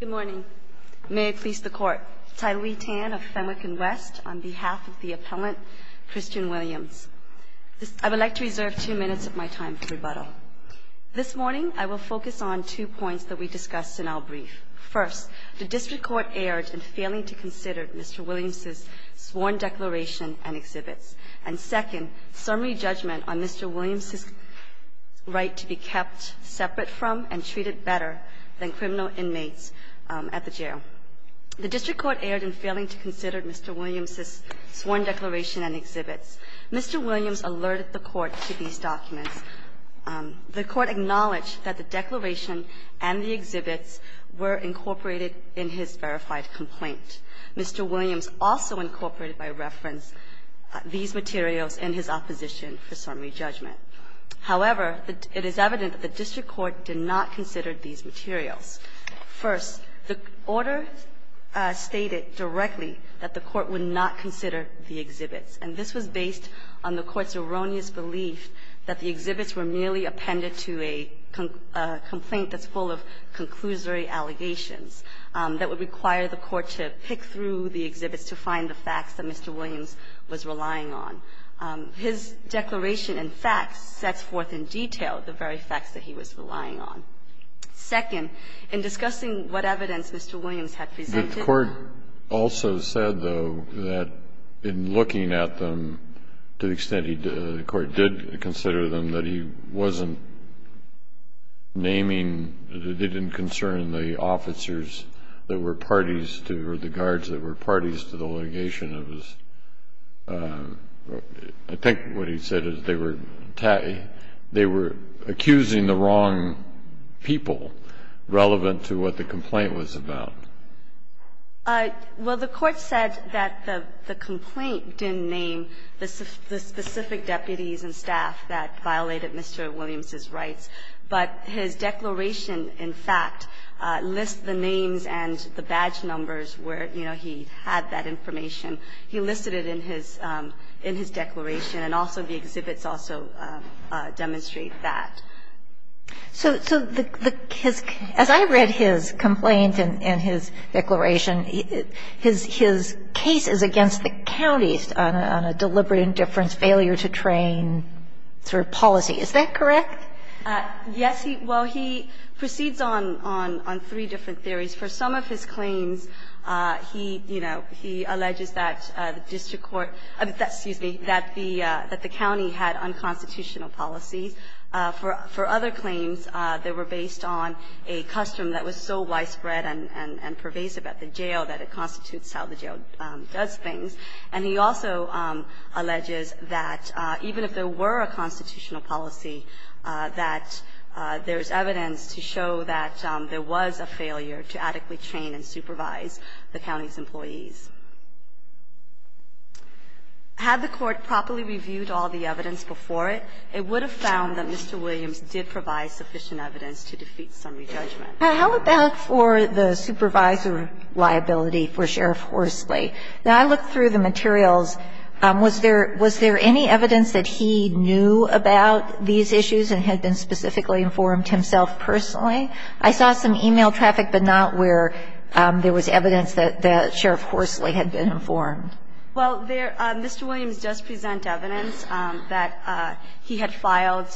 Good morning. May it please the court. Tylee Tan of Fenwick and West on behalf of the appellant Christian Williams. I would like to reserve two minutes of my time for rebuttal. This morning I will focus on two points that we discussed in our brief. First, the district court erred in failing to consider Mr. Williams' sworn declaration and exhibits. And second, summary judgment on Mr. Williams' right to be kept separate from and treated better than criminal inmates at the jail. The district court erred in failing to consider Mr. Williams' sworn declaration and exhibits. Mr. Williams alerted the court to these documents. The court acknowledged that the declaration and the exhibits were incorporated in his verified complaint. Mr. Williams also incorporated by reference these materials in his opposition for summary judgment. However, it is evident that the district court did not consider these materials. First, the order stated directly that the court would not consider the exhibits. And this was based on the court's erroneous belief that the exhibits were merely appended to a complaint that's full of conclusory allegations that would require the court to pick through the exhibits to find the facts that Mr. Williams was relying on. His declaration and facts sets forth in detail the very facts that he was relying on. Second, in discussing what evidence Mr. Williams had presented. Kennedy, the court also said, though, that in looking at them to the extent the court did consider them, that he wasn't naming, that it didn't concern the officers that were parties to, or the guards that were parties to the litigation. I think what he said is they were accusing the wrong people relevant to what the complaint was about. Well, the Court said that the complaint didn't name the specific deputies and staff that violated Mr. Williams' rights, but his declaration, in fact, lists the names and the badge numbers where, you know, he had that information. He listed it in his declaration. And also the exhibits also demonstrate that. So the kids, as I read his complaint and his declaration, his case is against the counties on a deliberate indifference failure to train through policy. Is that correct? Yes. Well, he proceeds on three different theories. For some of his claims, he, you know, he alleges that the district court, excuse me, that the county had unconstitutional policies. For other claims, they were based on a custom that was so widespread and pervasive at the jail that it constitutes how the jail does things. And he also alleges that even if there were a constitutional policy, that there is evidence to show that there was a failure to adequately train and supervise the county's employees. Had the Court properly reviewed all the evidence before it, it would have found that Mr. Williams did provide sufficient evidence to defeat summary judgment. How about for the supervisor liability for Sheriff Horsley? Now, I looked through the materials. Was there any evidence that he knew about these issues and had been specifically informed himself personally? I saw some e-mail traffic, but not where there was evidence that Sheriff Horsley had been informed. Well, there Mr. Williams does present evidence that he had filed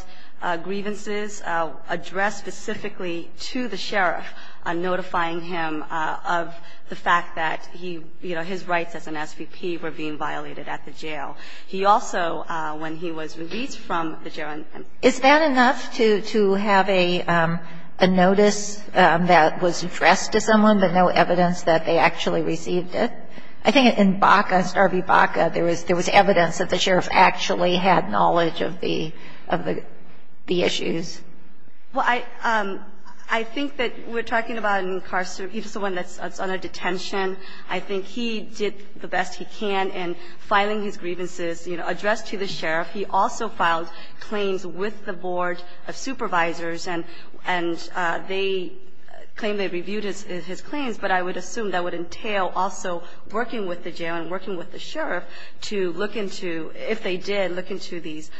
grievances addressed specifically to the sheriff, notifying him of the fact that he, you know, his rights as an SVP were being violated at the jail. He also, when he was released from the jail and ---- Is that enough to have a notice that was addressed to someone, but no evidence that they actually received it? I think in Baca, Star v. Baca, there was evidence that the sheriff actually had knowledge of the issues. Well, I think that we're talking about an incarcerated person that's under detention. I think he did the best he can in filing his grievances, you know, addressed to the sheriff. He also filed claims with the board of supervisors, and they claim they reviewed his claims, but I would assume that would entail also working with the jail and working with the sheriff to look into, if they did, look into these,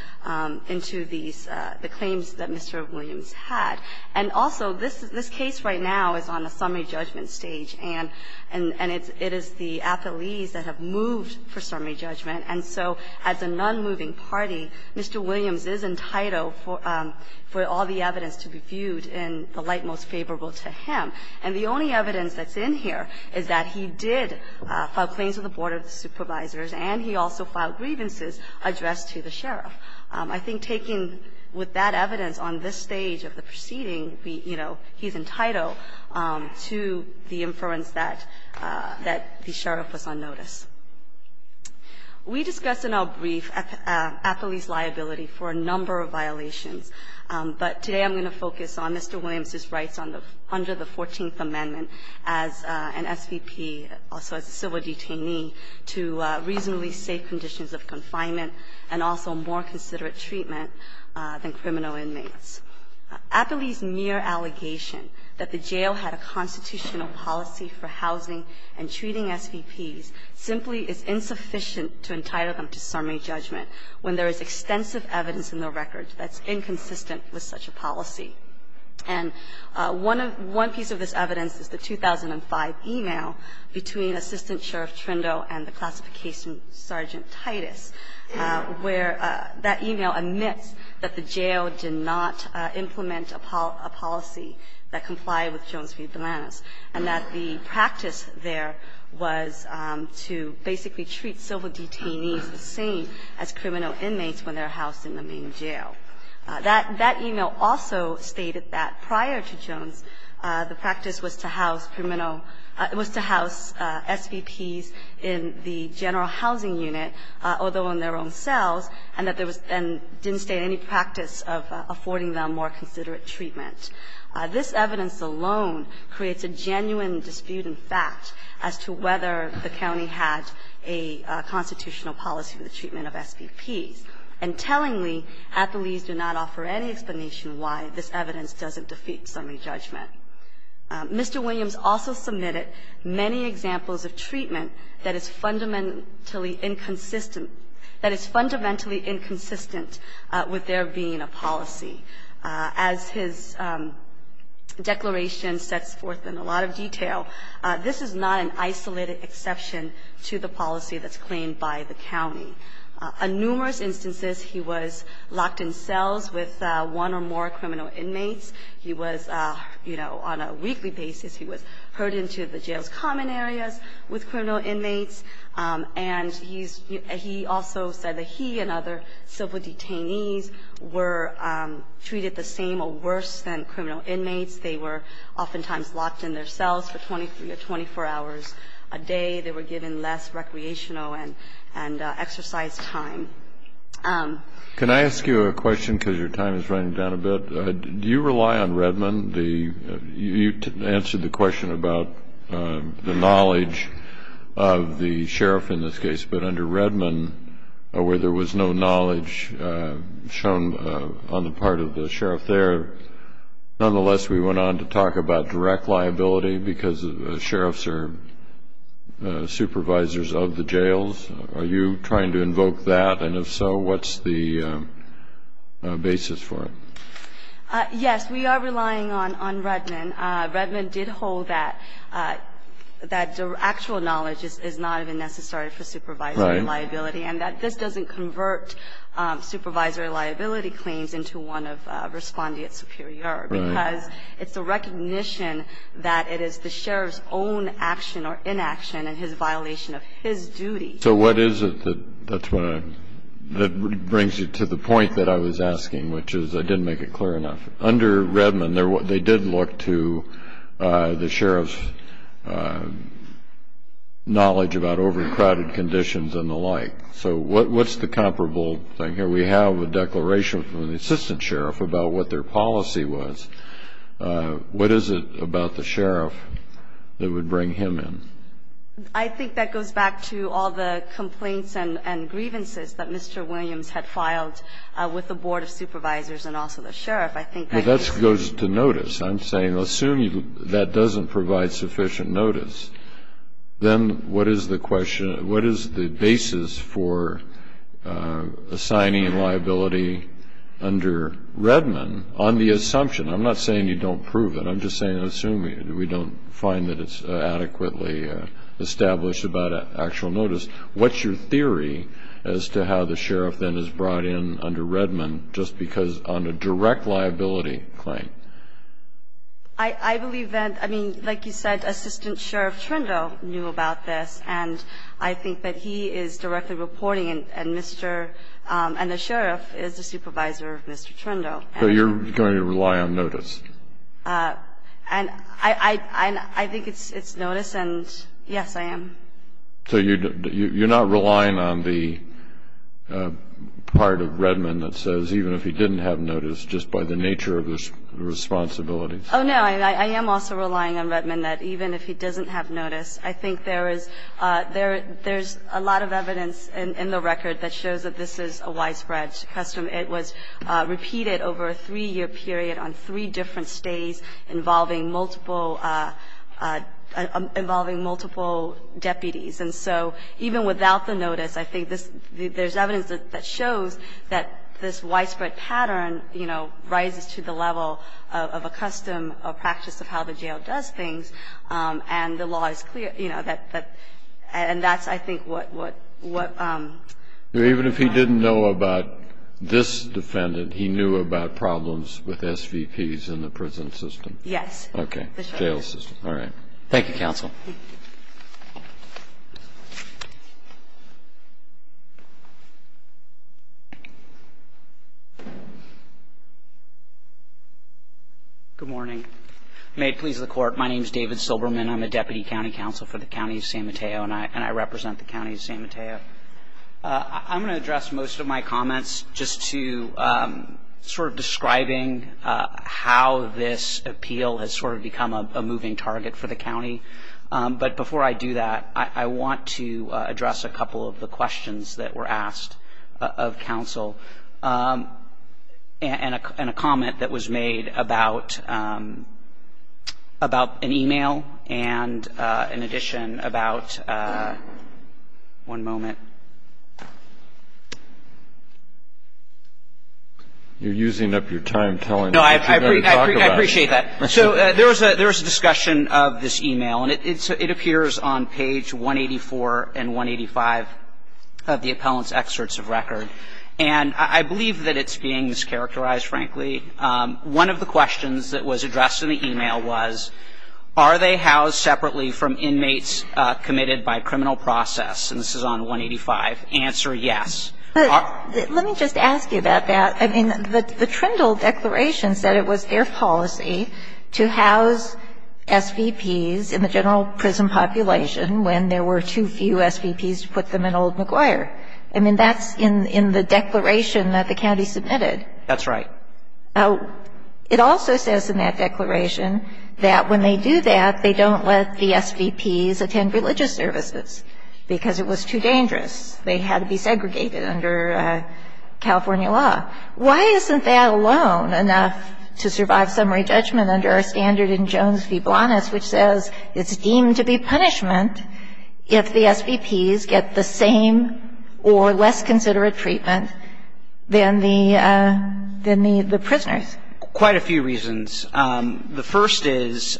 into these, the claims that Mr. Williams had. And also, this case right now is on a summary judgment stage, and it is the athletes that have moved for summary judgment, and so as a nonmoving party, Mr. Williams is entitled for all the evidence to be viewed in the light most favorable to him. And the only evidence that's in here is that he did file claims with the board of supervisors, and he also filed grievances addressed to the sheriff. I think taking with that evidence on this stage of the proceeding, you know, he's entitled to the inference that the sheriff was on notice. We discussed in our brief athlete's liability for a number of violations, but today I'm going to focus on Mr. Williams's rights under the 14th Amendment as an SVP, also as a civil detainee, to reasonably safe conditions of confinement, and also more considerate treatment than criminal inmates. Aptly's mere allegation that the jail had a constitutional policy for housing and treating SVPs simply is insufficient to entitle them to summary judgment when there is extensive evidence in the record that's inconsistent with such a policy. And one of the one piece of this evidence is the 2005 email between Assistant Sheriff Trindo and the classification sergeant Titus, where that email admits that the jail did not implement a policy that complied with Jones v. Delanus, and that the practice there was to basically treat civil detainees the same as criminal inmates when they're housed in the main jail. That email also stated that prior to Jones, the practice was to house criminal – was to house SVPs in the general housing unit, although in their own cells, and that there was – and didn't state any practice of affording them more considerate treatment. This evidence alone creates a genuine dispute in fact as to whether the county had a constitutional policy for the treatment of SVPs. And tellingly, Aptly's do not offer any explanation why this evidence doesn't defeat summary judgment. Mr. Williams also submitted many examples of treatment that is fundamentally inconsistent – that is fundamentally inconsistent with there being a policy. As his declaration sets forth in a lot of detail, this is not an isolated exception to the policy that's claimed by the county. On numerous instances, he was locked in cells with one or more criminal inmates. He was, you know, on a weekly basis, he was heard into the jail's common areas with criminal inmates, and he's – he also said that he and other civil detainees were treated the same or worse than criminal inmates. They were oftentimes locked in their cells for 23 or 24 hours a day. They were given less recreational and exercise time. Can I ask you a question because your time is running down a bit? Do you rely on Redmond? You answered the question about the knowledge of the sheriff in this case, but under Redmond, where there was no knowledge shown on the part of the sheriff there, nonetheless, we went on to talk about direct liability because the sheriffs are supervisors of the jails. Are you trying to invoke that, and if so, what's the basis for it? Yes, we are relying on Redmond. Redmond did hold that actual knowledge is not even necessary for supervisory liability and that this doesn't convert supervisory liability claims into one of respondeat superior because it's a recognition that it is the sheriff's own action or inaction and his violation of his duty. So what is it that brings you to the point that I was asking, which is I didn't make it clear enough. Under Redmond, they did look to the sheriff's knowledge about overcrowded conditions and the like, so what's the comparable thing here? We have a declaration from the assistant sheriff about what their policy was. What is it about the sheriff that would bring him in? I think that goes back to all the complaints and grievances that Mr. Williams had filed with the board of supervisors and also the sheriff. I think that goes to notice. I'm saying assume that doesn't provide sufficient notice, then what is the basis for assigning liability under Redmond on the assumption? I'm not saying you don't prove it. I'm just saying assume we don't find that it's adequately established about actual notice. What's your theory as to how the sheriff then is brought in under Redmond just because on a direct liability claim? I believe that, I mean, like you said, assistant sheriff Trindo knew about this, and I think that he is directly reporting, and the sheriff is the supervisor of Mr. Trindo. So you're going to rely on notice? I think it's notice, and yes, I am. So you're not relying on the part of Redmond that says even if he didn't have notice, just by the nature of the responsibility? Oh, no. I am also relying on Redmond that even if he doesn't have notice, I think there is a lot of evidence in the record that shows that this is a widespread custom. It was repeated over a three-year period on three different stays involving multiple deputies. And so even without the notice, I think there's evidence that shows that this widespread pattern, you know, rises to the level of a custom, a practice of how the jail does things, and the law is clear, you know. And that's, I think, what I'm trying to say. Even if he didn't know about this defendant, he knew about problems with SVPs in the prison system? Yes. Jail system. All right. Thank you, counsel. Thank you. Good morning. May it please the Court, my name is David Silberman. I'm a Deputy County Counsel for the County of San Mateo, and I represent the County of San Mateo. I'm going to address most of my comments just to sort of describing how this happened. But before I do that, I want to address a couple of the questions that were asked of counsel and a comment that was made about an e-mail and, in addition, about one moment. You're using up your time telling us what you're going to talk about. No, I appreciate that. So there was a discussion of this e-mail, and it appears on page 184 and 185 of the appellant's excerpts of record. And I believe that it's being mischaracterized, frankly. One of the questions that was addressed in the e-mail was, are they housed separately from inmates committed by criminal process? And this is on 185. Answer, yes. Let me just ask you about that. I mean, the Trindle declaration said it was their policy to house SVPs in the general prison population when there were too few SVPs to put them in Old McGuire. I mean, that's in the declaration that the county submitted. That's right. It also says in that declaration that when they do that, they don't let the SVPs attend religious services because it was too dangerous. They had to be segregated under California law. Why isn't that alone enough to survive summary judgment under our standard in Jones v. Blanas, which says it's deemed to be punishment if the SVPs get the same or less considerate treatment than the prisoners? Quite a few reasons. The first is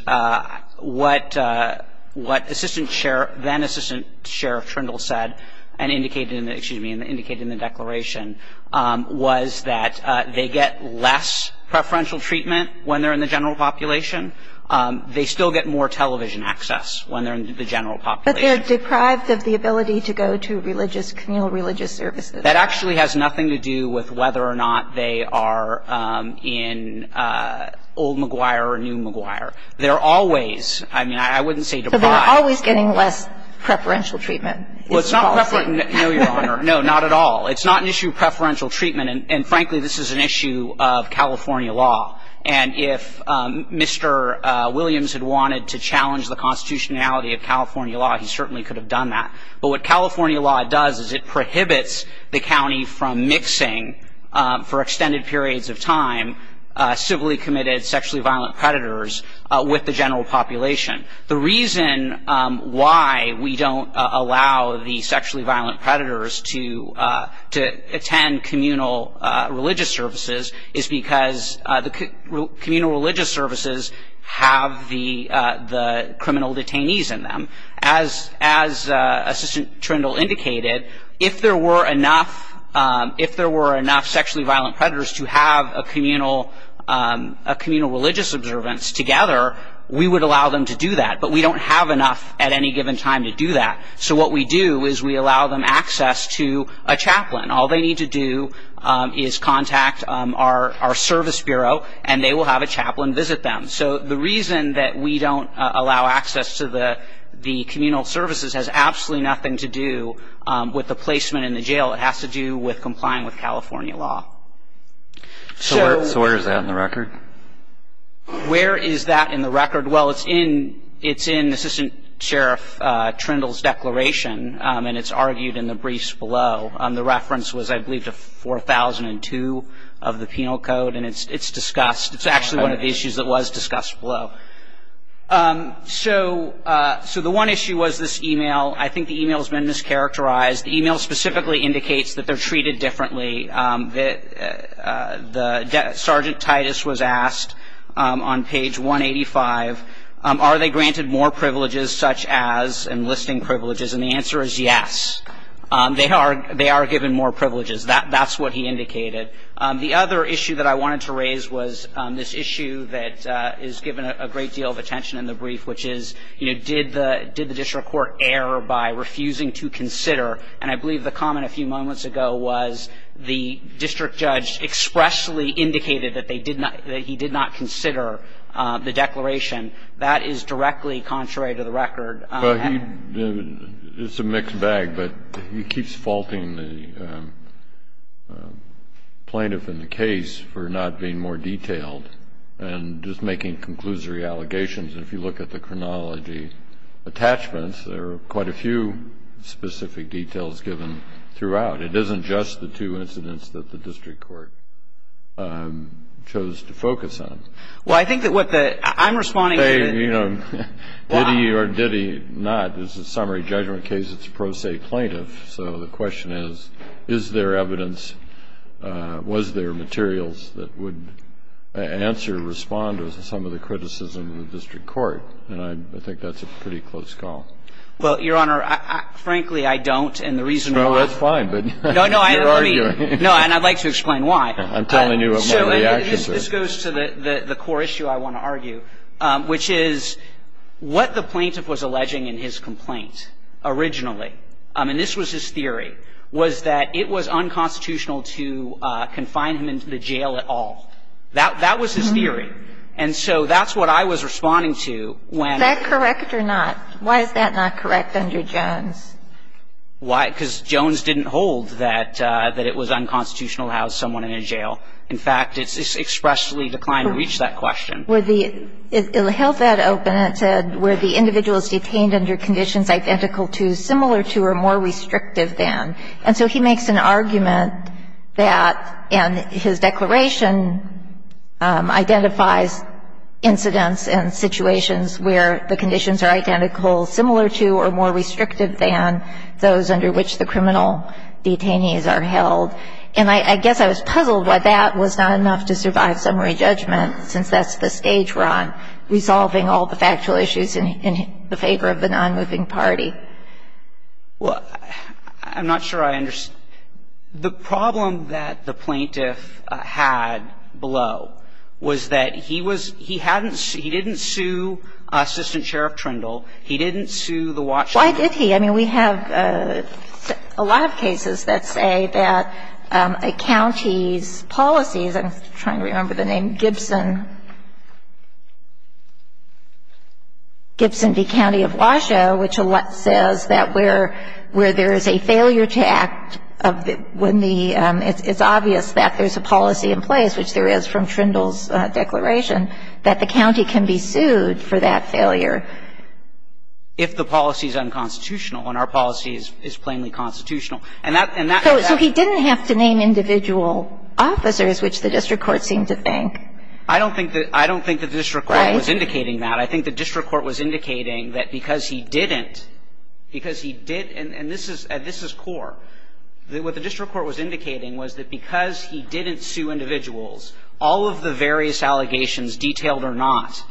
what assistant sheriff, then assistant sheriff Trindle said and indicated in the, excuse me, indicated in the declaration was that they get less preferential treatment when they're in the general population. They still get more television access when they're in the general population. But they're deprived of the ability to go to religious, communal religious services. That actually has nothing to do with whether or not they are in Old McGuire or New McGuire. They're always, I mean, I wouldn't say deprived. But they're always getting less preferential treatment. Well, it's not preferential. No, Your Honor. No, not at all. It's not an issue of preferential treatment. And frankly, this is an issue of California law. And if Mr. Williams had wanted to challenge the constitutionality of California law, he certainly could have done that. But what California law does is it prohibits the county from mixing for extended periods of time civilly committed sexually violent predators with the general population. The reason why we don't allow the sexually violent predators to attend communal religious services is because the communal religious services have the criminal detainees in them. As Assistant Trindle indicated, if there were enough sexually violent predators to have a communal religious observance together, we would allow them to do that. But we don't have enough at any given time to do that. So what we do is we allow them access to a chaplain. All they need to do is contact our service bureau, and they will have a chaplain visit them. So the reason that we don't allow access to the communal services has absolutely nothing to do with the placement in the jail. It has to do with complying with California law. So where is that in the record? Where is that in the record? Well, it's in Assistant Sheriff Trindle's declaration, and it's argued in the briefs below. The reference was, I believe, to 4002 of the Penal Code, and it's discussed. It's actually one of the issues that was discussed below. So the one issue was this e-mail. I think the e-mail has been mischaracterized. The e-mail specifically indicates that they're treated differently. Sergeant Titus was asked on page 185, are they granted more privileges such as enlisting privileges? And the answer is yes. They are given more privileges. That's what he indicated. The other issue that I wanted to raise was this issue that is given a great deal of attention in the brief, which is, you know, did the district court err by refusing to consider? And I believe the comment a few moments ago was the district judge expressly indicated that they did not he did not consider the declaration. That is directly contrary to the record. Well, he, it's a mixed bag, but he keeps faulting the plaintiff in the case for not being more detailed and just making conclusory allegations. And if you look at the chronology attachments, there are quite a few specific details given throughout. It isn't just the two incidents that the district court chose to focus on. Well, I think that what the, I'm responding to the Did he or did he not is a summary judgment case. It's a pro se plaintiff. So the question is, is there evidence, was there materials that would answer, respond to some of the criticism of the district court? And I think that's a pretty close call. Well, Your Honor, frankly, I don't. And the reason why. Well, that's fine, but you're arguing. I'm telling you what my reactions are. This goes to the core issue I want to argue, which is what the plaintiff was alleging in his complaint originally, and this was his theory, was that it was unconstitutional to confine him into the jail at all. That was his theory. And so that's what I was responding to when Is that correct or not? Why is that not correct under Jones? Why? Because Jones didn't hold that it was unconstitutional to house someone in a jail. In fact, it's expressly declined to reach that question. It held that open. It said where the individual is detained under conditions identical to, similar to, or more restrictive than. And so he makes an argument that in his declaration identifies incidents and situations where the conditions are identical, similar to, or more restrictive than those under which the criminal detainees are held. And I guess I was puzzled why that was not enough to survive summary judgment, since that's the stage we're on, resolving all the factual issues in favor of the nonmoving party. Well, I'm not sure I understand. The problem that the plaintiff had below was that he was he hadn't he didn't sue Assistant Sheriff Trindle. He didn't sue the watchman. Why did he? I mean, we have a lot of cases that say that a county's policies, I'm trying to remember the name, Gibson, Gibson v. County of Washoe, which says that where there is a failure to act, when the, it's obvious that there's a policy in place, which there is from Trindle's declaration, that the county can be sued for that failure. If the policy is unconstitutional and our policy is plainly constitutional. And that, and that. So he didn't have to name individual officers, which the district court seemed to think. I don't think that, I don't think that the district court was indicating that. I think the district court was indicating that because he didn't, because he did, and this is, this is core, that what the district court was indicating was that because he didn't sue individuals, all of the various allegations, detailed or not,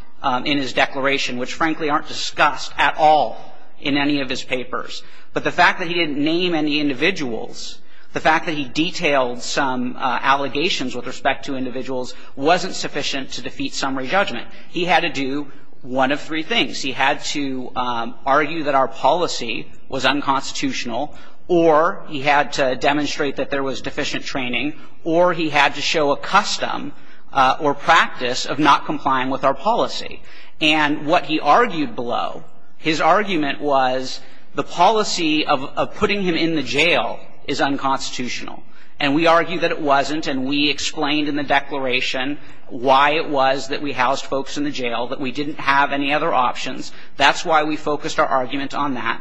in his case, they aren't discussed at all in any of his papers. But the fact that he didn't name any individuals, the fact that he detailed some allegations with respect to individuals, wasn't sufficient to defeat summary judgment. He had to do one of three things. He had to argue that our policy was unconstitutional, or he had to demonstrate that there was deficient training, or he had to show a custom or practice of not complying with our policy. And what he argued below, his argument was the policy of putting him in the jail is unconstitutional. And we argued that it wasn't, and we explained in the declaration why it was that we housed folks in the jail, that we didn't have any other options. That's why we focused our argument on that.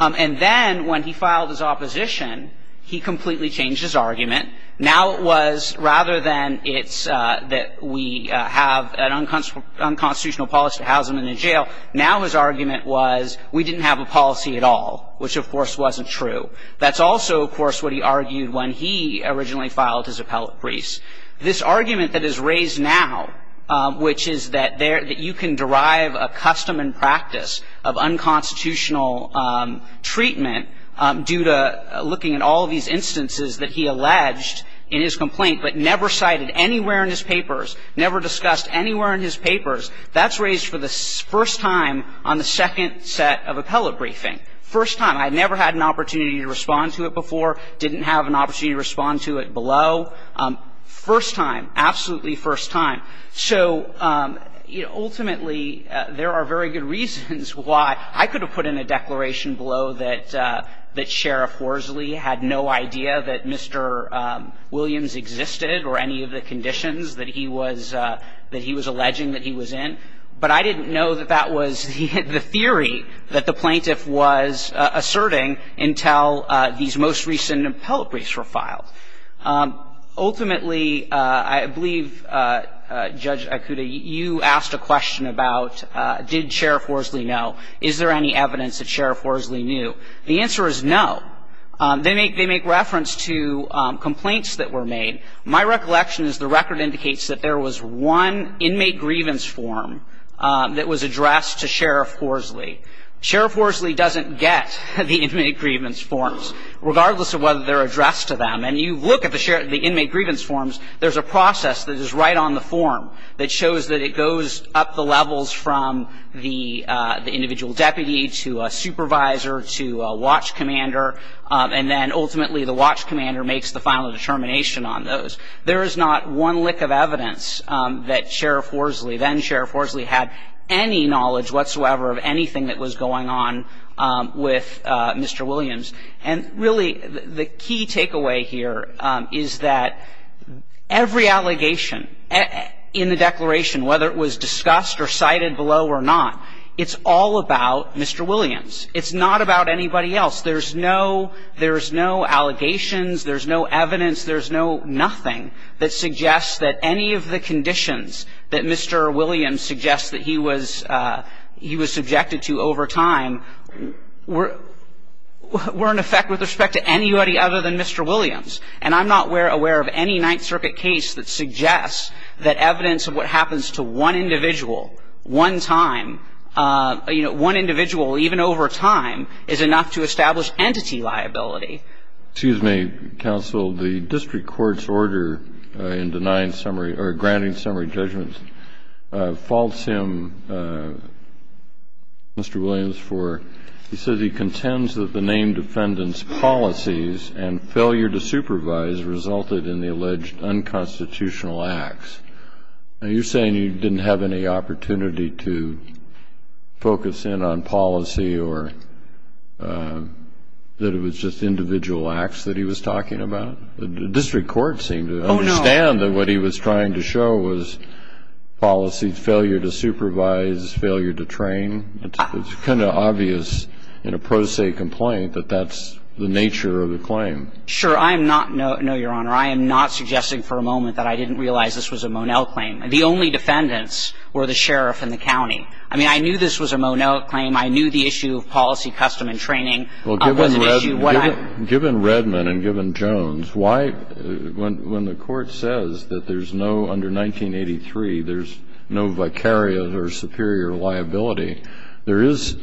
And then when he filed his opposition, he completely changed his argument. Now it was, rather than it's that we have an unconstitutional policy to house them in the jail, now his argument was we didn't have a policy at all, which of course wasn't true. That's also, of course, what he argued when he originally filed his appellate briefs. This argument that is raised now, which is that you can derive a custom and practice of unconstitutional treatment due to looking at all of these instances that he alleged in his complaint, but never cited anywhere in his papers, never discussed anywhere in his papers, that's raised for the first time on the second set of appellate briefing. First time. I never had an opportunity to respond to it before, didn't have an opportunity to respond to it below. First time, absolutely first time. So, you know, ultimately, there are very good reasons why. I could have put in a declaration below that Sheriff Horsley had no idea that Mr. Williams existed or any of the conditions that he was alleging that he was in, but I didn't know that that was the theory that the plaintiff was asserting until these most recent appellate briefs were filed. Ultimately, I believe, Judge Ikuta, you asked a question about did Sheriff Horsley know? Is there any evidence that Sheriff Horsley knew? The answer is no. There's no evidence that he knew. But if you look at the inmate grievance form, they make reference to complaints that were made. My recollection is the record indicates that there was one inmate grievance form that was addressed to Sheriff Horsley. Sheriff Horsley doesn't get the inmate grievance forms, regardless of whether they're addressed to them. And you look at the inmate grievance forms, there's a process that is right on the watch commander and then ultimately the watch commander makes the final determination on those. There is not one lick of evidence that Sheriff Horsley, then Sheriff Horsley, had any knowledge whatsoever of anything that was going on with Mr. Williams. And really, the key takeaway here is that every allegation in the declaration, whether it was discussed or cited below or not, it's all about Mr. Williams. It's not about anybody else. There's no allegations. There's no evidence. There's no nothing that suggests that any of the conditions that Mr. Williams suggests that he was subjected to over time were in effect with respect to anybody other than Mr. Williams. And I'm not aware of any Ninth Circuit case that suggests that evidence of what established entity liability. Excuse me, counsel. The district court's order in denying summary or granting summary judgments faults him, Mr. Williams, for he says he contends that the named defendant's policies and failure to supervise resulted in the alleged unconstitutional acts. Are you saying you didn't have any opportunity to focus in on policy or that it was just individual acts that he was talking about? The district court seemed to understand that what he was trying to show was policy failure to supervise, failure to train. It's kind of obvious in a pro se complaint that that's the nature of the claim. Sure. I'm not no, Your Honor. I am not suggesting for a moment that I didn't realize this was a Monell claim. The only defendants were the sheriff and the county. I mean, I knew this was a Monell claim. I knew the issue of policy, custom, and training was an issue. Given Redmond and given Jones, why, when the court says that there's no, under 1983, there's no vicarious or superior liability, there is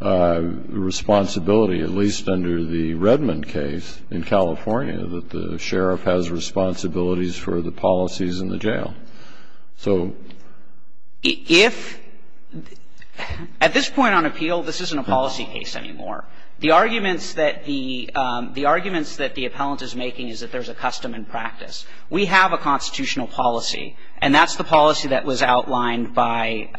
responsibility, at least under the Redmond case in California, that the sheriff has responsibilities for the policies in the jail. So if at this point on appeal, this isn't a policy case anymore. The arguments that the arguments that the appellant is making is that there's a custom and practice. We have a constitutional policy, and that's the policy that was outlined by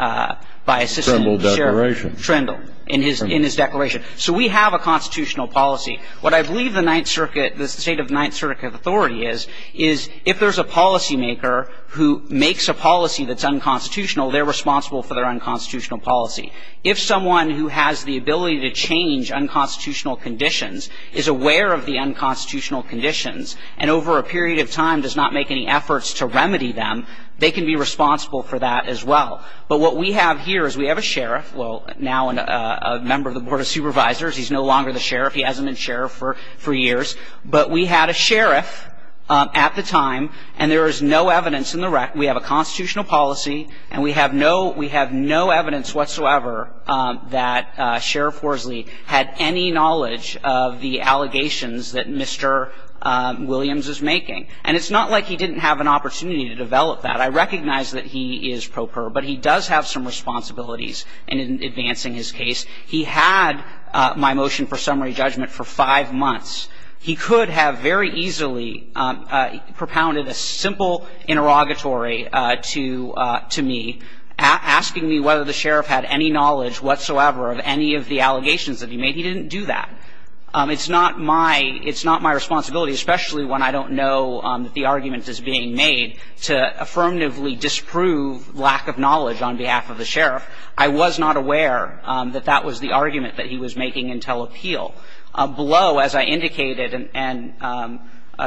assistant sheriff Trindle in his declaration. Trindle declaration. So we have a constitutional policy. What I believe the Ninth Circuit, the state of Ninth Circuit authority is, is if there's a policymaker who makes a policy that's unconstitutional, they're responsible for their unconstitutional policy. If someone who has the ability to change unconstitutional conditions is aware of the unconstitutional conditions and over a period of time does not make any efforts to remedy them, they can be responsible for that as well. But what we have here is we have a sheriff, well, now a member of the Board of Supervisors. He's no longer the sheriff. He hasn't been sheriff for years. But we had a sheriff at the time, and there is no evidence in the rec. We have a constitutional policy, and we have no evidence whatsoever that Sheriff Worsley had any knowledge of the allegations that Mr. Williams is making. And it's not like he didn't have an opportunity to develop that. I recognize that he is pro per, but he does have some responsibilities in advancing his case. He had my motion for summary judgment for five months. He could have very easily propounded a simple interrogatory to me, asking me whether the sheriff had any knowledge whatsoever of any of the allegations that he made. He didn't do that. It's not my responsibility, especially when I don't know that the argument is being made, to affirmatively disprove lack of knowledge on behalf of the sheriff. I was not aware that that was the argument that he was making in telepeel. Below, as I indicated, and,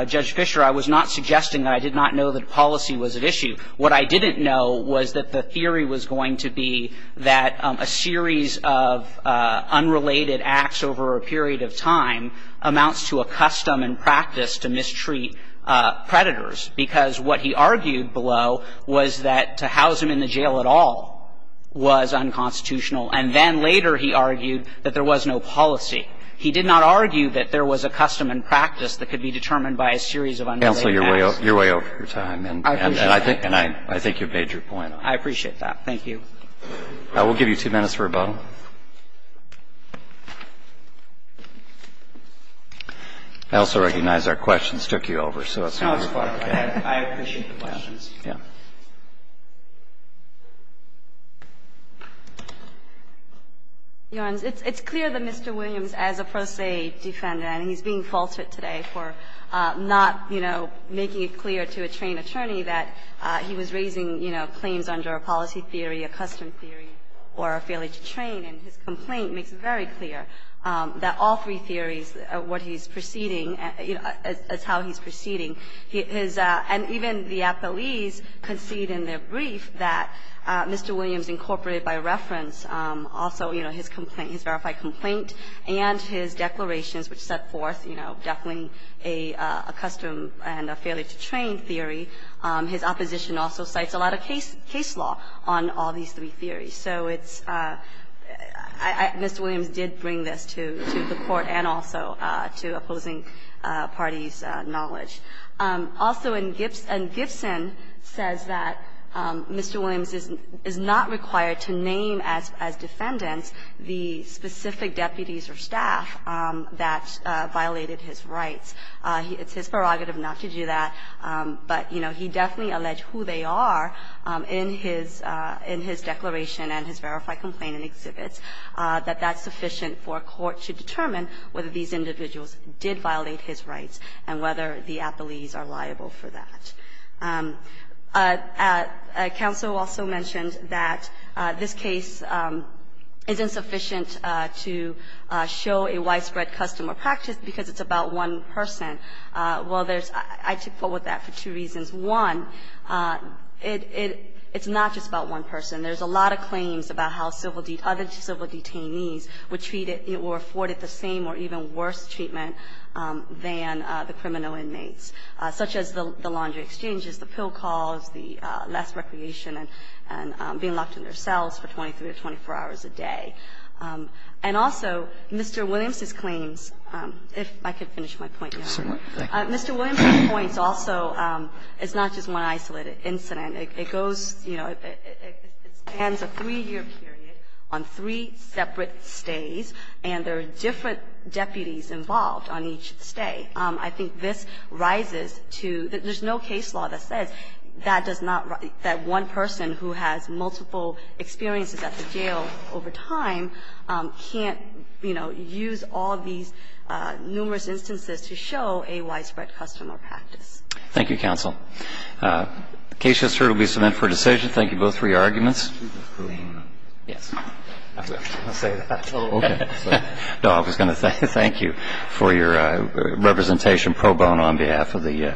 Judge Fischer, I was not suggesting that I did not know that policy was at issue. What I didn't know was that the theory was going to be that a series of unrelated acts over a period of time amounts to a custom and practice to mistreat predators, because what he argued below was that to house him in the jail at all was unconstitutional. And then later he argued that there was no policy. He did not argue that there was a custom and practice that could be determined by a series of unrelated acts. And I think you've made your point. I appreciate that. Thank you. We'll give you two minutes for rebuttal. I also recognize our questions took you over, so let's move to the final case. I appreciate the questions. Yeah. Your Honor, it's clear that Mr. Williams, as a pro se defender, and he's being faltered today for not, you know, making it clear to a trained attorney that he was raising, you know, claims under a policy theory, a custom theory, or a failure to train. And his complaint makes it very clear that all three theories of what he's proceeding as how he's proceeding. And even the appellees concede in their brief that Mr. Williams incorporated by reference also, you know, his complaint, his verified complaint and his declarations which set forth, you know, definitely a custom and a failure to train theory. His opposition also cites a lot of case law on all these three theories. So it's Mr. Williams did bring this to the Court and also to opposing parties' knowledge. Also in Gibson says that Mr. Williams is not required to name as defendants the specific deputies or staff that violated his rights. It's his prerogative not to do that. But, you know, he definitely alleged who they are in his declaration and his verified complaint and exhibits, that that's sufficient for a court to determine whether these individuals did violate his rights and whether the appellees are liable for that. Counsel also mentioned that this case isn't sufficient to show a widespread custom or practice because it's about one person. Well, there's – I took forward that for two reasons. One, it's not just about one person. There's a lot of claims about how civil – other civil detainees were treated or afforded the same or even worse treatment than the criminal inmates, such as the laundry exchanges, the pill calls, the less recreation and being locked in their cells for 23 or 24 hours a day. And also, Mr. Williams's claims, if I could finish my point. Mr. Williams's points also, it's not just one isolated incident. It goes, you know, it spans a 3-year period on three separate stays, and there are different deputies involved on each stay. I think this rises to – there's no case law that says that does not – that one person who has multiple experiences at the jail over time can't, you know, use all of these numerous instances to show a widespread custom or practice. Thank you, counsel. The case just heard will be submitted for decision. Thank you both for your arguments. Yes. I was going to say that. Oh, okay. No, I was going to say thank you for your representation pro bono on behalf of the Court.